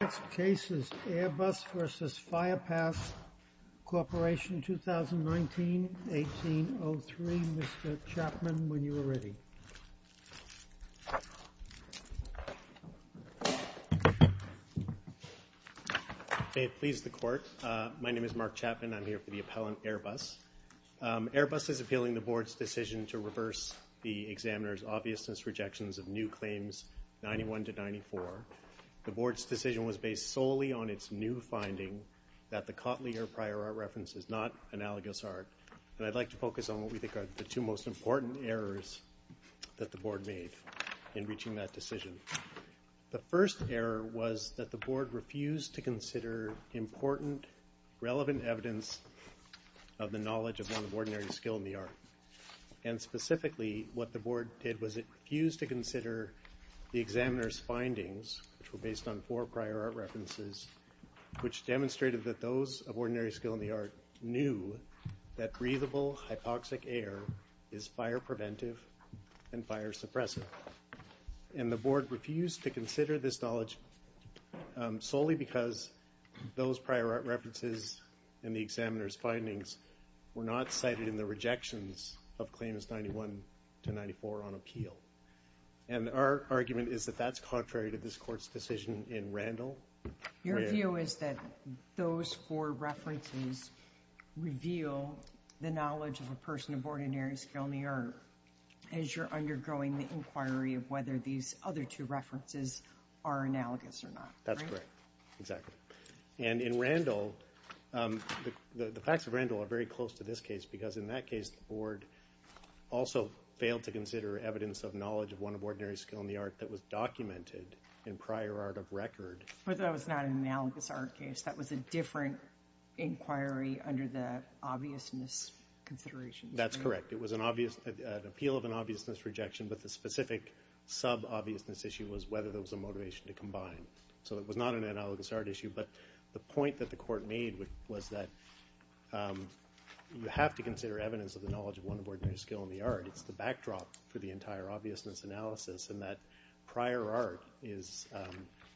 Next case is Airbus S.A.S. v. Firepass Corporation 2019-18-03. Mr. Chapman, when you are ready. May it please the Court. My name is Mark Chapman. I'm here for the appellant Airbus. Airbus is appealing the Board's decision to reverse the examiner's obviousness rejections of new claims 91-94. The Board's decision was based solely on its new finding that the Cotley or prior art reference is not analogous art. And I'd like to focus on what we think are the two most important errors that the Board made in reaching that decision. The first error was that the Board refused to consider important, relevant evidence of the knowledge of one of ordinary skill in the art. And specifically, what the Board did was it refused to consider the examiner's findings, which were based on four prior art references, which demonstrated that those of ordinary skill in the art knew that breathable hypoxic air is fire preventive and fire suppressive. And the Board refused to consider this knowledge solely because those prior art references and the examiner's findings were not cited in the rejections of claims 91-94 on appeal. And our argument is that that's contrary to this Court's decision in Randall. Your view is that those four references reveal the knowledge of a person of ordinary skill in the art, as you're undergoing the inquiry of whether these other two references are analogous or not. That's correct. Exactly. And in Randall, the facts of Randall are very close to this case, because in that case, the Board also failed to consider evidence of knowledge of one of ordinary skill in the art that was documented in prior art of record. But that was not an analogous art case. That was a different inquiry under the obviousness consideration. That's correct. It was an appeal of an obviousness rejection, but the specific sub-obviousness issue was whether there was a motivation to combine. So it was not an analogous art issue, but the point that the Court made was that you have to consider evidence of the knowledge of one of ordinary skill in the art. It's the backdrop for the entire obviousness analysis, and that prior art is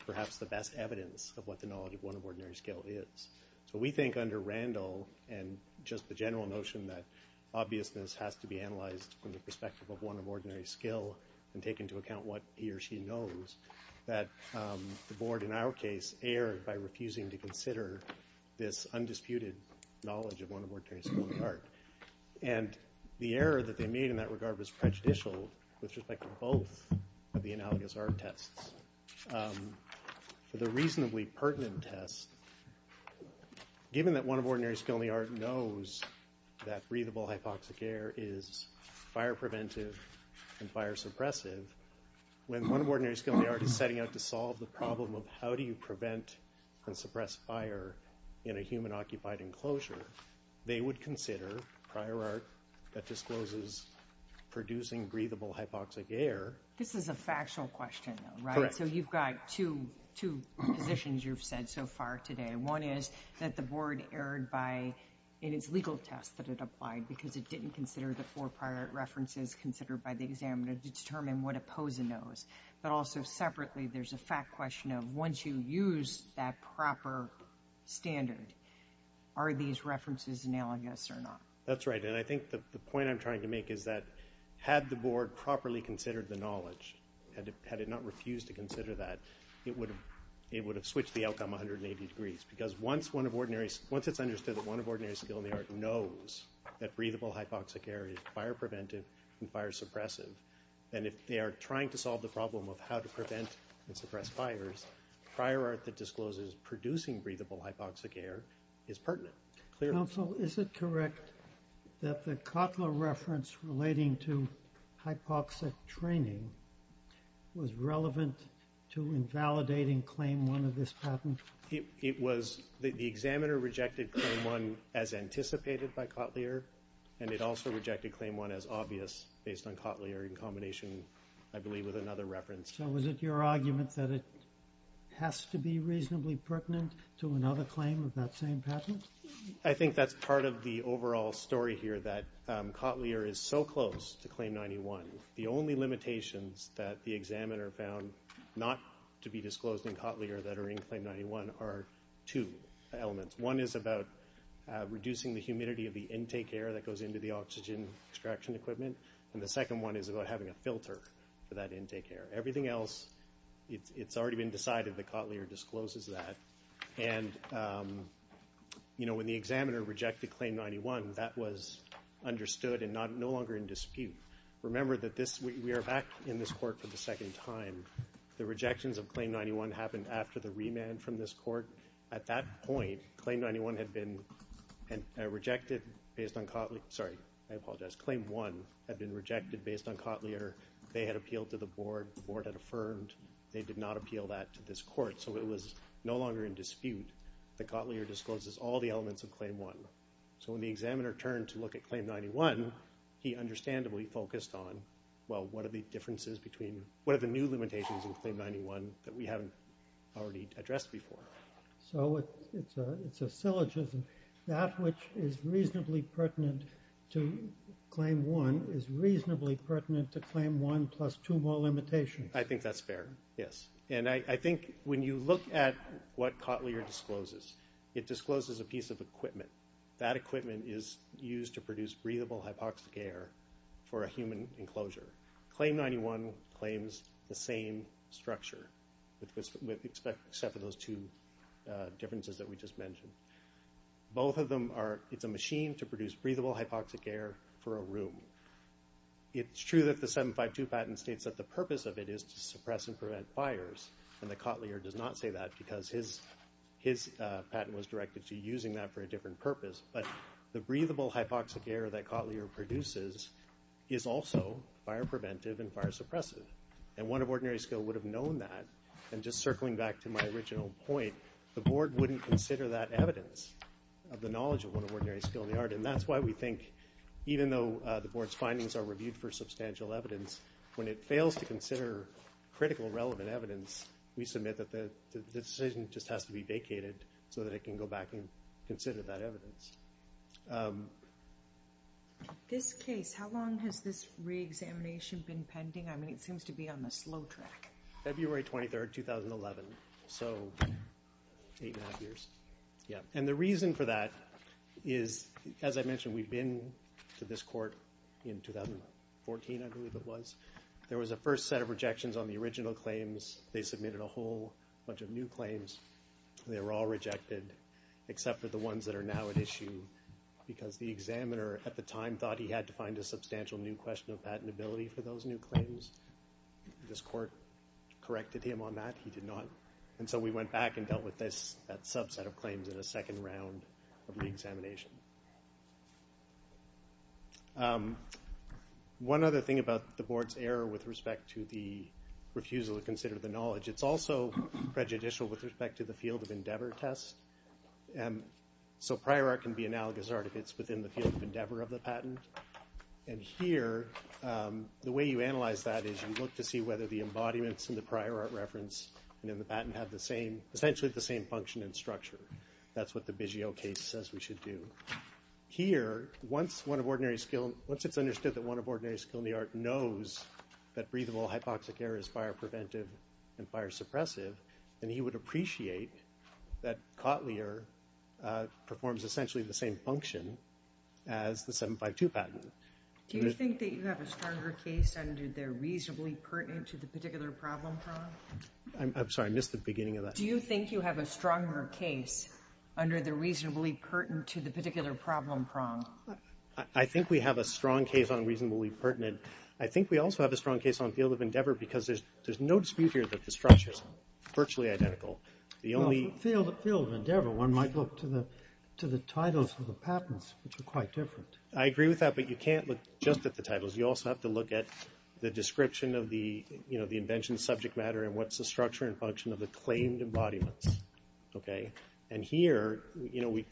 perhaps the best evidence of what the knowledge of one of ordinary skill is. So we think under Randall, and just the general notion that obviousness has to be analyzed from the perspective of one of ordinary skill and take into account what he or she knows, that the Board, in our case, erred by refusing to consider this undisputed knowledge of one of ordinary skill in the art. And the error that they made in that regard was prejudicial with respect to both of the analogous art tests. For the reasonably pertinent test, given that one of ordinary skill in the art knows that breathable hypoxic air is fire preventive and fire suppressive, when one of ordinary skill in the art is setting out to solve the problem of how do you prevent and suppress fire in a human-occupied enclosure, they would consider prior art that discloses producing breathable hypoxic air. This is a factual question, though, right? Correct. So you've got two positions you've said so far today. One is that the Board erred in its legal test that it applied because it didn't consider the four prior art references considered by the examiner to determine what a poser knows. But also, separately, there's a fact question of once you use that proper standard, are these references analogous or not? That's right. And I think the point I'm trying to make is that had the Board properly considered the knowledge, had it not refused to consider that, it would have switched the outcome 180 degrees. Because once it's understood that one of ordinary skill in the art knows that breathable hypoxic air is fire preventive and fire suppressive, and if they are trying to solve the problem of how to prevent and suppress fires, prior art that discloses producing breathable hypoxic air is pertinent. Counsel, is it correct that the Kotler reference relating to hypoxic training was relevant to invalidating Claim 1 of this patent? The examiner rejected Claim 1 as anticipated by Kotler, and it also rejected Claim 1 as obvious based on Kotler in combination, I believe, with another reference. So was it your argument that it has to be reasonably pertinent to another claim of that same patent? I think that's part of the overall story here that Kotler is so close to Claim 91. The only limitations that the examiner found not to be disclosed in Kotler that are in Claim 91 are two elements. One is about reducing the humidity of the intake air that goes into the oxygen extraction equipment, and the second one is about having a filter for that intake air. Everything else, it's already been decided that Kotler discloses that. And when the examiner rejected Claim 91, that was understood and no longer in dispute. Remember that we are back in this Court for the second time. The rejections of Claim 91 happened after the remand from this Court. At that point, Claim 1 had been rejected based on Kotler. They had appealed to the Board. The Board had affirmed. They did not appeal that to this Court, so it was no longer in dispute that Kotler discloses all the elements of Claim 1. So when the examiner turned to look at Claim 91, he understandably focused on, well, what are the differences between – what are the new limitations in Claim 91 that we haven't already addressed before? So it's a syllogism. That which is reasonably pertinent to Claim 1 is reasonably pertinent to Claim 1 plus two more limitations. I think that's fair, yes. And I think when you look at what Kotler discloses, it discloses a piece of equipment. That equipment is used to produce breathable hypoxic air for a human enclosure. Claim 91 claims the same structure except for those two differences that we just mentioned. Both of them are – it's a machine to produce breathable hypoxic air for a room. It's true that the 752 patent states that the purpose of it is to suppress and prevent fires, and that Kotler does not say that because his patent was directed to using that for a different purpose. But the breathable hypoxic air that Kotler produces is also fire-preventive and fire-suppressive. And 1 of Ordinary Skill would have known that. And just circling back to my original point, the Board wouldn't consider that evidence of the knowledge of 1 of Ordinary Skill in the art. And that's why we think, even though the Board's findings are reviewed for substantial evidence, when it fails to consider critical relevant evidence, we submit that the decision just has to be vacated so that it can go back and consider that evidence. This case, how long has this reexamination been pending? I mean, it seems to be on the slow track. February 23rd, 2011, so eight and a half years. And the reason for that is, as I mentioned, we've been to this court in 2014, I believe it was. There was a first set of rejections on the original claims. They submitted a whole bunch of new claims. They were all rejected except for the ones that are now at issue because the examiner at the time thought he had to find a substantial new question of patentability for those new claims. This court corrected him on that. He did not. And so we went back and dealt with that subset of claims in a second round of reexamination. One other thing about the Board's error with respect to the refusal to consider the knowledge, it's also prejudicial with respect to the field of endeavor test. So prior art can be analogous art if it's within the field of endeavor of the patent. And here, the way you analyze that is you look to see whether the embodiments in the prior art reference and in the patent have essentially the same function and structure. That's what the Biggio case says we should do. Here, once it's understood that one of ordinary skill in the art knows that breathable hypoxic air is fire-preventive and fire-suppressive, then he would appreciate that Cotlier performs essentially the same function as the 752 patent. Do you think that you have a stronger case under the reasonably pertinent to the particular problem prong? I'm sorry, I missed the beginning of that. Do you think you have a stronger case under the reasonably pertinent to the particular problem prong? I think we have a strong case on reasonably pertinent. I think we also have a strong case on field of endeavor because there's no dispute here that the structure is virtually identical. The only— Field of endeavor, one might look to the titles of the patents, which are quite different. I agree with that, but you can't look just at the titles. You also have to look at the description of the invention subject matter and what's the structure and function of the claimed embodiments. And here,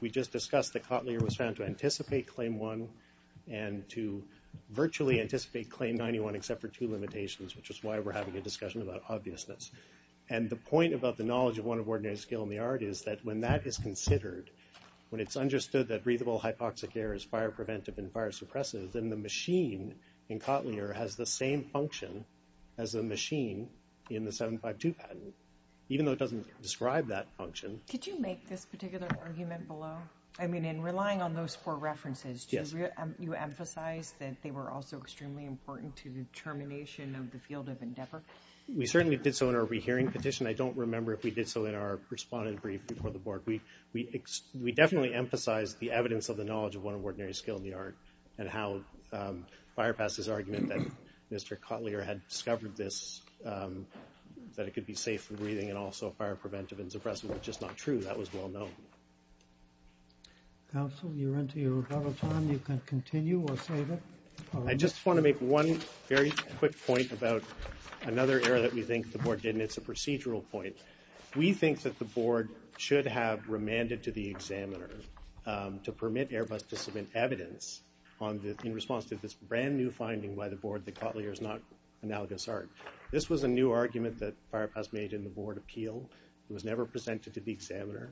we just discussed that Cotlier was found to anticipate Claim 1 and to virtually anticipate Claim 91 except for two limitations, which is why we're having a discussion about obviousness. And the point about the knowledge of one of ordinary skill in the art is that when that is considered, when it's understood that breathable hypoxic air is fire-preventive and fire-suppressive, then the machine in Cotlier has the same function as the machine in the 752 patent. Even though it doesn't describe that function— Could you make this particular argument below? I mean, in relying on those four references, do you emphasize that they were also extremely important to the termination of the field of endeavor? We certainly did so in our rehearing petition. I don't remember if we did so in our respondent brief before the board. We definitely emphasized the evidence of the knowledge of one of ordinary skill in the art and how Firepass's argument that Mr. Cotlier had discovered this, that it could be safe for breathing and also fire-preventive and suppressive, was just not true. That was well known. Counsel, you're into your rebuttal time. You can continue or save it. I just want to make one very quick point about another error that we think the board didn't. It's a procedural point. We think that the board should have remanded to the examiner to permit Airbus to submit evidence in response to this brand new finding by the board that Cotlier is not analogous art. This was a new argument that Firepass made in the board appeal. It was never presented to the examiner.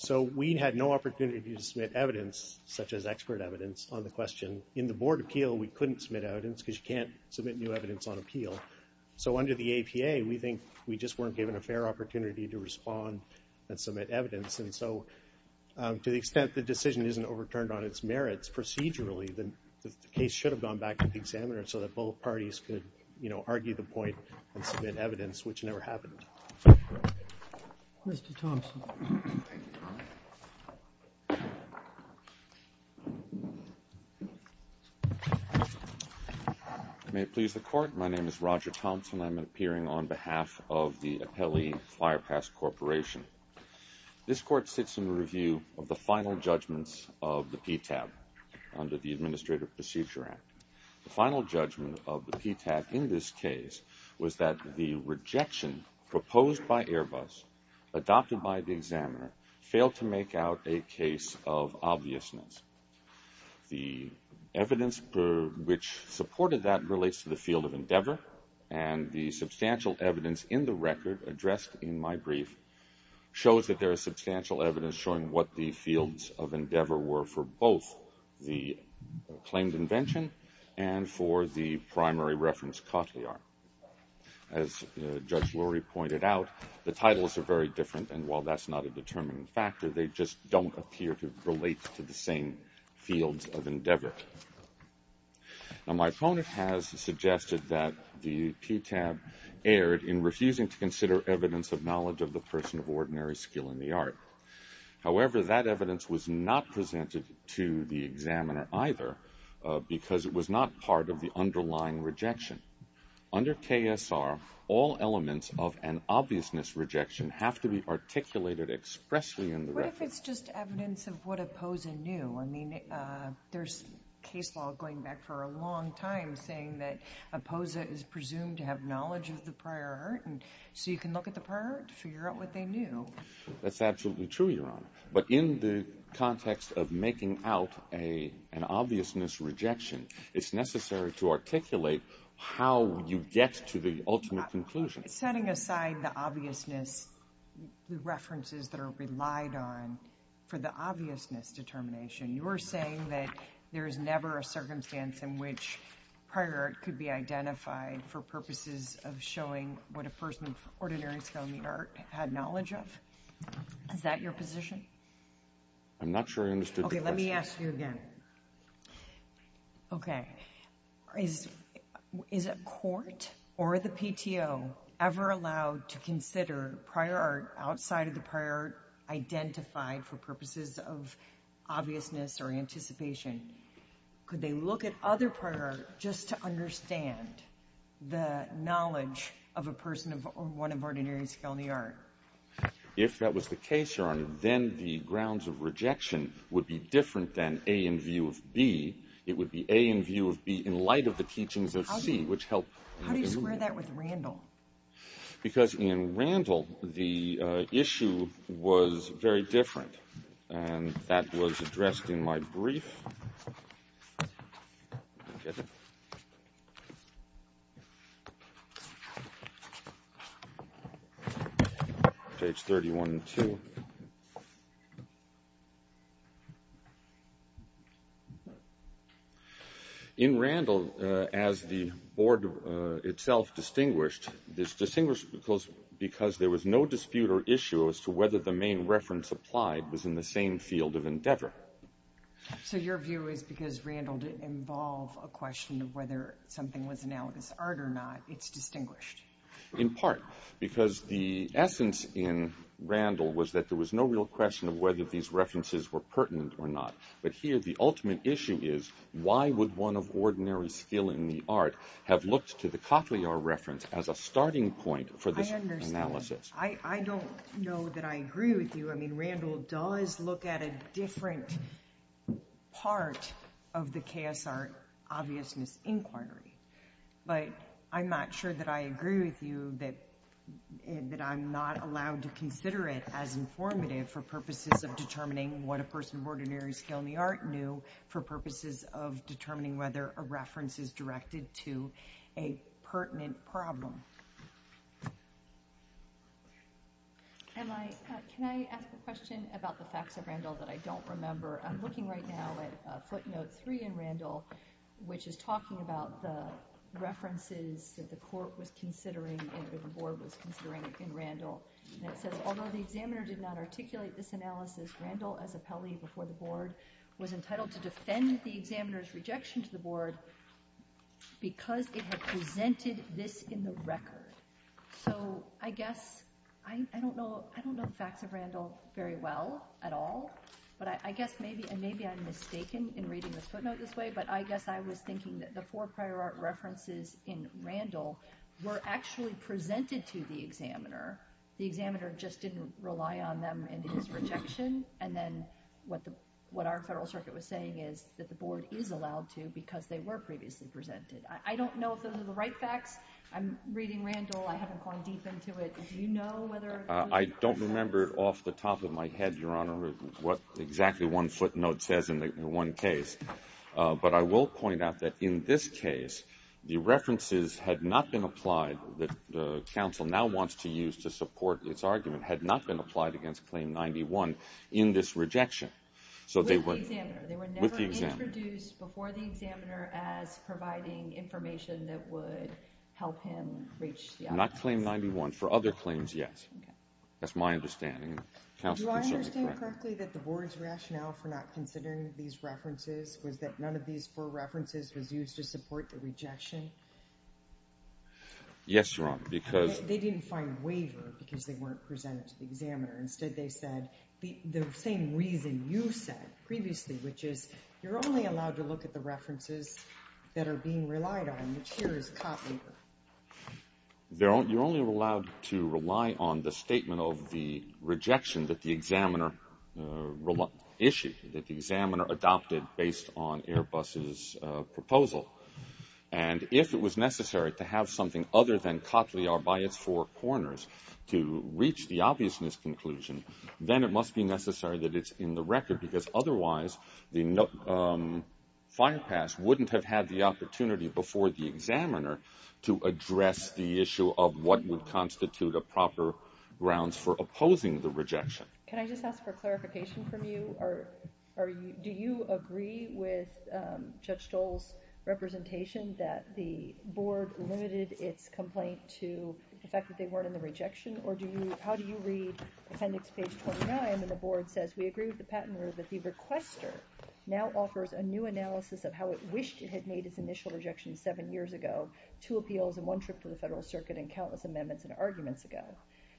So we had no opportunity to submit evidence, such as expert evidence, on the question. In the board appeal, we couldn't submit evidence because you can't submit new evidence on appeal. So under the APA, we think we just weren't given a fair opportunity to respond and submit evidence. And so to the extent the decision isn't overturned on its merits procedurally, the case should have gone back to the examiner so that both parties could argue the point and submit evidence, which never happened. Mr. Thompson. May it please the Court. My name is Roger Thompson. I'm appearing on behalf of the Appellee Firepass Corporation. This court sits in review of the final judgments of the PTAB under the Administrative Procedure Act. The final judgment of the PTAB in this case was that the rejection proposed by Airbus, adopted by the examiner, failed to make out a case of obviousness. The evidence which supported that relates to the field of endeavor, and the substantial evidence in the record addressed in my brief shows that there is substantial evidence showing what the fields of endeavor were for both the claimed invention and for the primary reference Cotillard. As Judge Lurie pointed out, the titles are very different, and while that's not a determining factor, they just don't appear to relate to the same fields of endeavor. Now, my opponent has suggested that the PTAB erred in refusing to consider evidence of knowledge of the person of ordinary skill in the art. However, that evidence was not presented to the examiner either because it was not part of the underlying rejection. Under KSR, all elements of an obviousness rejection have to be articulated expressly in the record. What if it's just evidence of what a posa knew? I mean, there's case law going back for a long time saying that a posa is presumed to have knowledge of the prior art, and so you can look at the prior art to figure out what they knew. That's absolutely true, Your Honor. But in the context of making out an obviousness rejection, it's necessary to articulate how you get to the ultimate conclusion. Setting aside the obviousness, the references that are relied on for the obviousness determination, you are saying that there is never a circumstance in which prior art could be identified for purposes of showing what a person of ordinary skill in the art had knowledge of? Is that your position? I'm not sure I understood the question. Okay, let me ask you again. Okay. Is a court or the PTO ever allowed to consider prior art outside of the prior art identified for purposes of obviousness or anticipation? Could they look at other prior art just to understand the knowledge of a person of one of ordinary skill in the art? If that was the case, Your Honor, then the grounds of rejection would be different than A in view of B. It would be A in view of B in light of the teachings of C, which help. Because in Randall, the issue was very different, and that was addressed in my brief. Page 31-2. In Randall, as the board itself distinguished, this distinguished because there was no dispute or issue as to whether the main reference applied was in the same field of endeavor. So your view is because Randall didn't involve a question of whether something was analogous art or not, it's distinguished. In part, because the essence in Randall was that there was no real question of whether these references were pertinent or not. But here the ultimate issue is, why would one of ordinary skill in the art have looked to the Cotillard reference as a starting point for this analysis? I understand. I don't know that I agree with you. I mean, Randall does look at a different part of the chaos art obviousness inquiry. But I'm not sure that I agree with you that I'm not allowed to consider it as informative for purposes of determining what a person of ordinary skill in the art knew, for purposes of determining whether a reference is directed to a pertinent problem. Can I ask a question about the facts of Randall that I don't remember? I'm looking right now at footnote 3 in Randall, which is talking about the references that the court was considering and the board was considering in Randall. And it says, although the examiner did not articulate this analysis, Randall, as appellee before the board, was entitled to defend the examiner's rejection to the board because it had presented this in the record. So I guess I don't know the facts of Randall very well at all. But I guess maybe I'm mistaken in reading this footnote this way. But I guess I was thinking that the four prior art references in Randall were actually presented to the examiner. The examiner just didn't rely on them in his rejection. And then what our federal circuit was saying is that the board is allowed to because they were previously presented. I don't know if those are the right facts. I'm reading Randall. I haven't gone deep into it. Do you know whether or not? I don't remember off the top of my head, Your Honor, what exactly one footnote says in one case. But I will point out that in this case, the references had not been applied, that the counsel now wants to use to support its argument, had not been applied against Claim 91 in this rejection. With the examiner. With the examiner. They were never introduced before the examiner as providing information that would help him reach the other claims. Not Claim 91. For other claims, yes. That's my understanding. Do I understand correctly that the board's rationale for not considering these references was that none of these four references was used to support the rejection? Yes, Your Honor, because. They didn't find waiver because they weren't presented to the examiner. Instead, they said the same reason you said previously, which is you're only allowed to look at the references that are being relied on, which here is cop waiver. You're only allowed to rely on the statement of the rejection that the examiner issued, that the examiner adopted based on Airbus's proposal. And if it was necessary to have something other than Cotley are by its four corners to reach the obviousness conclusion, then it must be necessary that it's in the record because otherwise the fire pass wouldn't have had the opportunity before the examiner to address the issue of what would constitute a proper grounds for opposing the rejection. Can I just ask for clarification from you? Do you agree with Judge Stoll's representation that the board limited its complaint to the fact that they weren't in the rejection? Or how do you read appendix page 29 when the board says, we agree with the patent order that the requester now offers a new analysis of how it wished it had made its initial rejection seven years ago, two appeals and one trip to the federal circuit and countless amendments and arguments ago.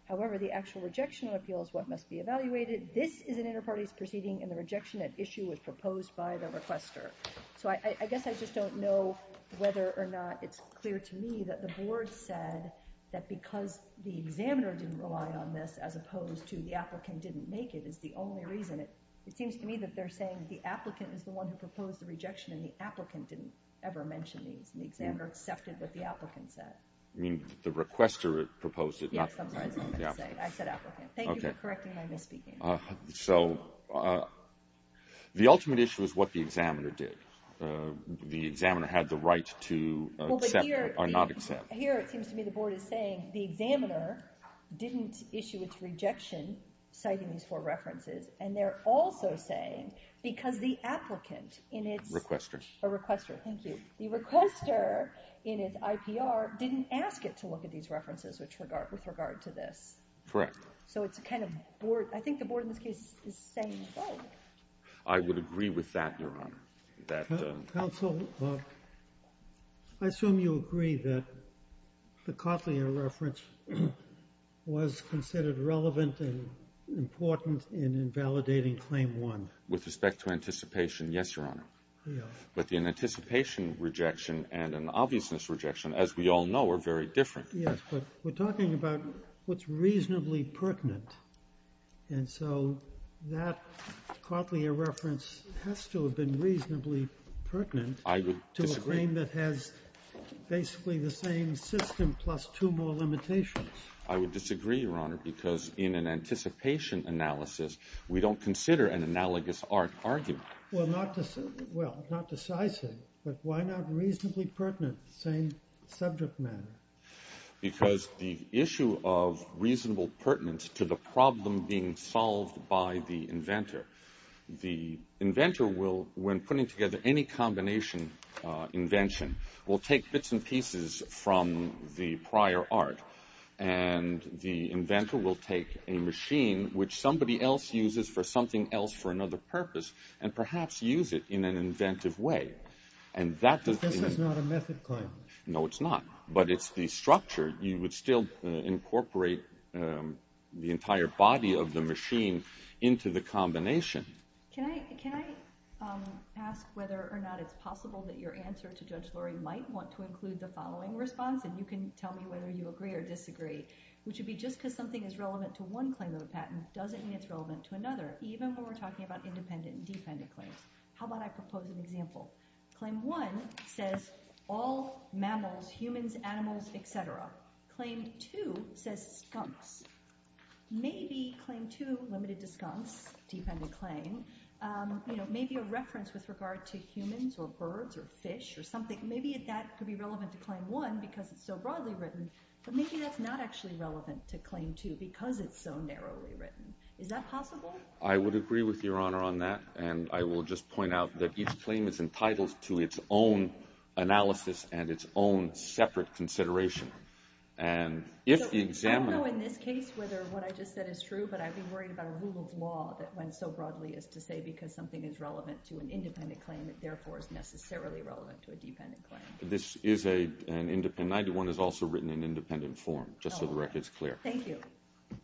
However, the actual rejection of appeals, what must be evaluated. This is an inter-parties proceeding and the rejection at issue was proposed by the requester. So I guess I just don't know whether or not it's clear to me that the board said that because the examiner didn't rely on this as opposed to the applicant didn't make it is the only reason. It seems to me that they're saying the applicant is the one who proposed the rejection and the applicant didn't ever mention these and the examiner accepted what the applicant said. I mean, the requester proposed it, not the applicant. I said applicant. Thank you for correcting my misspeaking. So the ultimate issue is what the examiner did. The examiner had the right to accept or not accept. Here it seems to me the board is saying the examiner didn't issue its rejection citing these four references. And they're also saying because the applicant in its requesters, a requester. Thank you. The requester in its IPR didn't ask it to look at these references, which regard with regard to this. Correct. So it's a kind of board. I think the board in this case is saying I would agree with that. Counsel, I assume you agree that the Cotlier reference was considered relevant and important in invalidating claim one. With respect to anticipation. Yes, Your Honor. But the anticipation rejection and an obviousness rejection, as we all know, are very different. Yes, but we're talking about what's reasonably pertinent. And so that Cotlier reference has to have been reasonably pertinent. I would disagree. To a claim that has basically the same system plus two more limitations. I would disagree, Your Honor, because in an anticipation analysis, we don't consider an analogous argument. Well, not decisive, but why not reasonably pertinent? Same subject matter. Because the issue of reasonable pertinence to the problem being solved by the inventor. The inventor will, when putting together any combination invention, will take bits and pieces from the prior art. And the inventor will take a machine which somebody else uses for something else for another purpose and perhaps use it in an inventive way. This is not a method claim. No, it's not. But it's the structure. You would still incorporate the entire body of the machine into the combination. Can I ask whether or not it's possible that your answer to Judge Lurie might want to include the following response? And you can tell me whether you agree or disagree. Which would be just because something is relevant to one claim of a patent doesn't mean it's relevant to another. Even when we're talking about independent and dependent claims. How about I propose an example? Claim one says all mammals, humans, animals, et cetera. Claim two says skunks. Maybe claim two, limited to skunks, dependent claim, may be a reference with regard to humans or birds or fish or something. Maybe that could be relevant to claim one because it's so broadly written. But maybe that's not actually relevant to claim two because it's so narrowly written. Is that possible? I would agree with Your Honor on that. And I will just point out that each claim is entitled to its own analysis and its own separate consideration. And if the examiner – I don't know in this case whether what I just said is true, but I'd be worried about a rule of law that went so broadly as to say because something is relevant to an independent claim, it therefore is necessarily relevant to a dependent claim. This is an independent – 91 is also written in independent form, just so the record's clear. Thank you.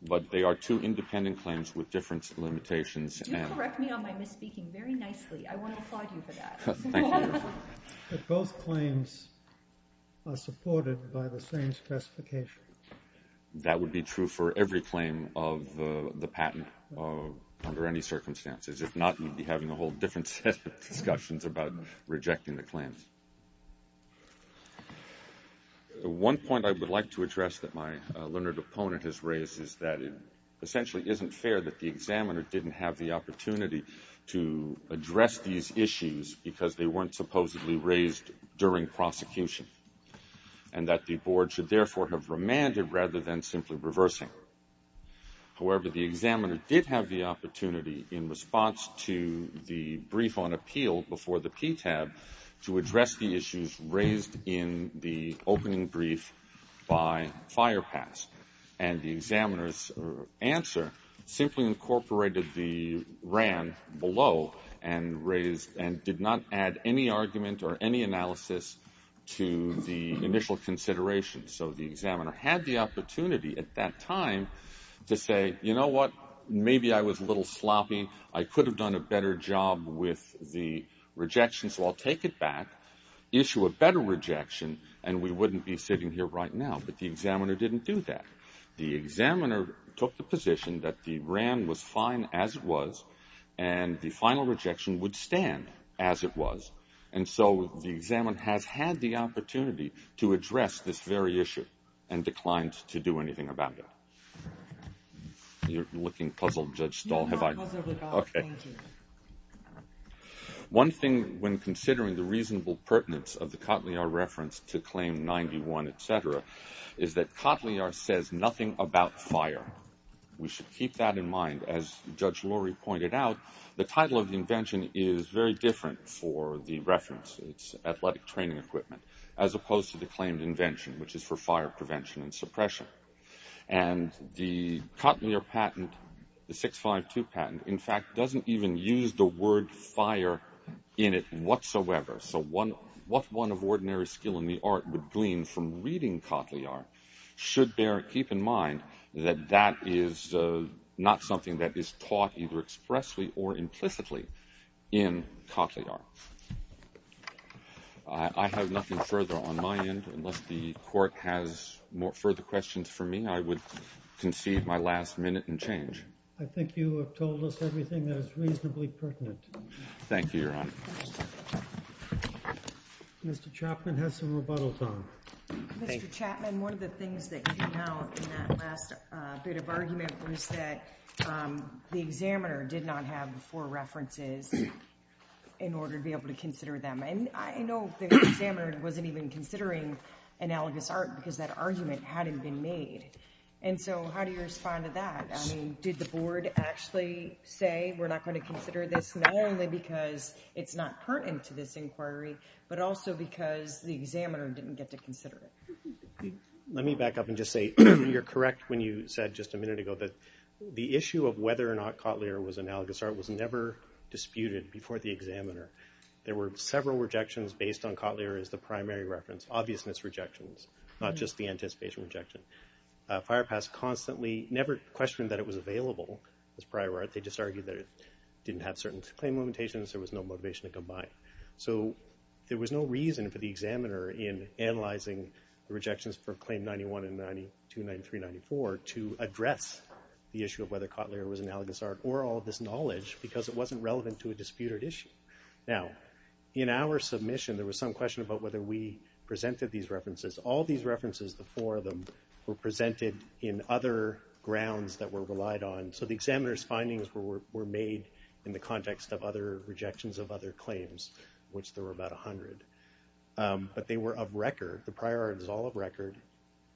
But they are two independent claims with different limitations. Do correct me on my misspeaking very nicely. I want to applaud you for that. Thank you, Your Honor. But both claims are supported by the same specification. That would be true for every claim of the patent under any circumstances. If not, you'd be having a whole different set of discussions about rejecting the claims. One point I would like to address that my learned opponent has raised is that it essentially isn't fair that the examiner didn't have the opportunity to address these issues because they weren't supposedly raised during prosecution and that the board should therefore have remanded rather than simply reversing. However, the examiner did have the opportunity in response to the brief on appeal before the PTAB to address the issues raised in the opening brief by Firepass. And the examiner's answer simply incorporated the RAND below and did not add any argument or any analysis to the initial consideration. So the examiner had the opportunity at that time to say, you know what, maybe I was a little sloppy. I could have done a better job with the rejection, so I'll take it back, issue a better rejection, and we wouldn't be sitting here right now. But the examiner didn't do that. The examiner took the position that the RAND was fine as it was and the final rejection would stand as it was. And so the examiner has had the opportunity to address this very issue and declined to do anything about it. You're looking puzzled, Judge Stahl. No, I'm not puzzled at all. Okay. Thank you. One thing when considering the reasonable pertinence of the Cotillard reference to claim 91, et cetera, is that Cotillard says nothing about fire. We should keep that in mind. As Judge Lorry pointed out, the title of the invention is very different for the reference. It's athletic training equipment, as opposed to the claimed invention, which is for fire prevention and suppression. And the Cotillard patent, the 652 patent, in fact, doesn't even use the word fire in it whatsoever. So what one of ordinary skill in the art would glean from reading Cotillard should keep in mind that that is not something that is taught either expressly or implicitly in Cotillard. I have nothing further on my end. Unless the Court has further questions for me, I would concede my last minute and change. I think you have told us everything that is reasonably pertinent. Thank you, Your Honor. Mr. Chapman has some rebuttals on. Mr. Chapman, one of the things that came out in that last bit of argument was that the examiner did not have the four references in order to be able to consider them. And I know the examiner wasn't even considering analogous art because that argument hadn't been made. And so how do you respond to that? I mean, did the Board actually say we're not going to consider this, not only because it's not pertinent to this inquiry, but also because the examiner didn't get to consider it? Let me back up and just say you're correct when you said just a minute ago that the issue of whether or not Cotillard was analogous art was never disputed before the examiner. There were several rejections based on Cotillard as the primary reference, obvious misrejections, not just the anticipation rejection. Firepass constantly never questioned that it was available as prior art. They just argued that it didn't have certain claim limitations. There was no motivation to combine. So there was no reason for the examiner in analyzing the rejections for Claim 91 and 92, 93, 94 to address the issue of whether Cotillard was analogous art or all of this knowledge because it wasn't relevant to a disputed issue. Now, in our submission, there was some question about whether we presented these references. All these references, the four of them, were presented in other grounds that were relied on. So the examiner's findings were made in the context of other rejections of other claims, which there were about 100. But they were of record. The prior art is all of record.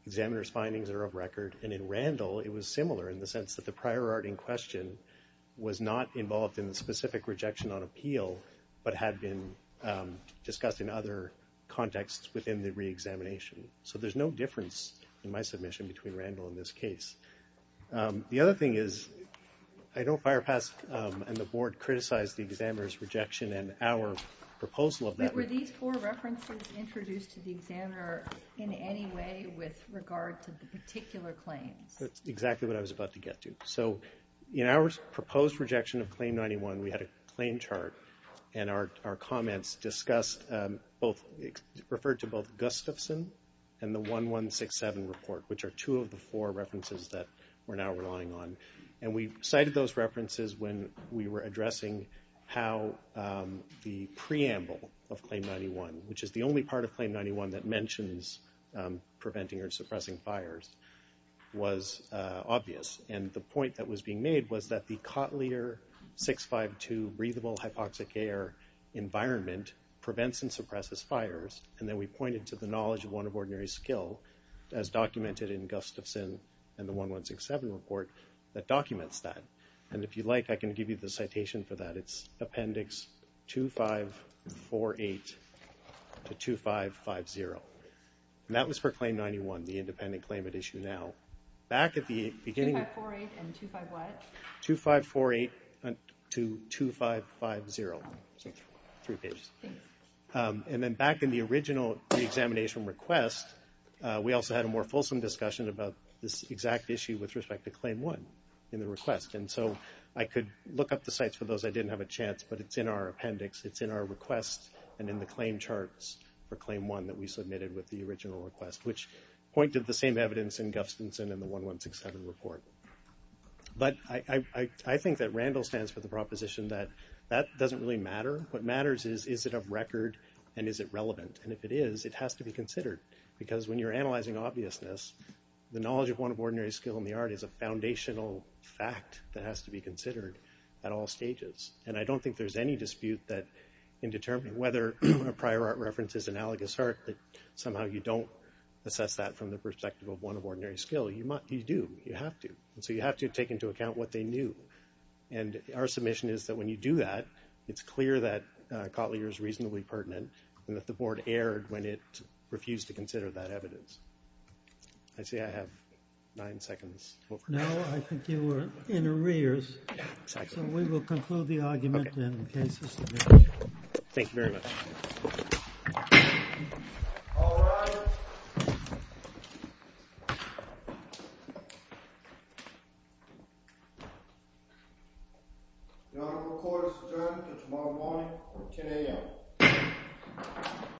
Examiner's findings are of record. And in Randall, it was similar in the sense that the prior art in question was not involved in the specific rejection on appeal but had been discussed in other contexts within the reexamination. So there's no difference in my submission between Randall and this case. The other thing is I know Firepass and the board criticized the examiner's rejection and our proposal of that. But were these four references introduced to the examiner in any way with regard to the particular claims? That's exactly what I was about to get to. So in our proposed rejection of Claim 91, we had a claim chart. And our comments discussed both referred to both Gustafson and the 1167 report, which are two of the four references that we're now relying on. And we cited those references when we were addressing how the preamble of Claim 91, which is the only part of Claim 91 that mentions preventing or suppressing fires, was obvious. And the point that was being made was that the Cotelier 652 breathable hypoxic air environment prevents and suppresses fires. And then we pointed to the knowledge of one of ordinary skill as documented in Gustafson and the 1167 report that documents that. And if you'd like, I can give you the citation for that. It's Appendix 2548 to 2550. And that was for Claim 91, the independent claim at issue now. Back at the beginning. 2548 and 25 what? 2548 to 2550. Three pages. And then back in the original reexamination request, we also had a more fulsome discussion about this exact issue with respect to Claim 1 in the request. And so I could look up the sites for those. I didn't have a chance, but it's in our appendix. It's in our request and in the claim charts for Claim 1 that we submitted with the original request, which pointed the same evidence in Gustafson and the 1167 report. But I think that Randall stands for the proposition that that doesn't really matter. What matters is, is it a record and is it relevant? And if it is, it has to be considered. Because when you're analyzing obviousness, the knowledge of one of ordinary skill in the art is a foundational fact that has to be considered at all stages. And I don't think there's any dispute that in determining whether a prior art reference is analogous art, that somehow you don't assess that from the perspective of one of ordinary skill. You do. You have to. And so you have to take into account what they knew. And our submission is that when you do that, it's clear that Cotleyer is reasonably pertinent and that the board erred when it refused to consider that evidence. I see I have nine seconds. No, I think you were in arrears. So we will conclude the argument in case of submission. Thank you very much. All rise. The Honorable Court is adjourned until tomorrow morning at 10 a.m.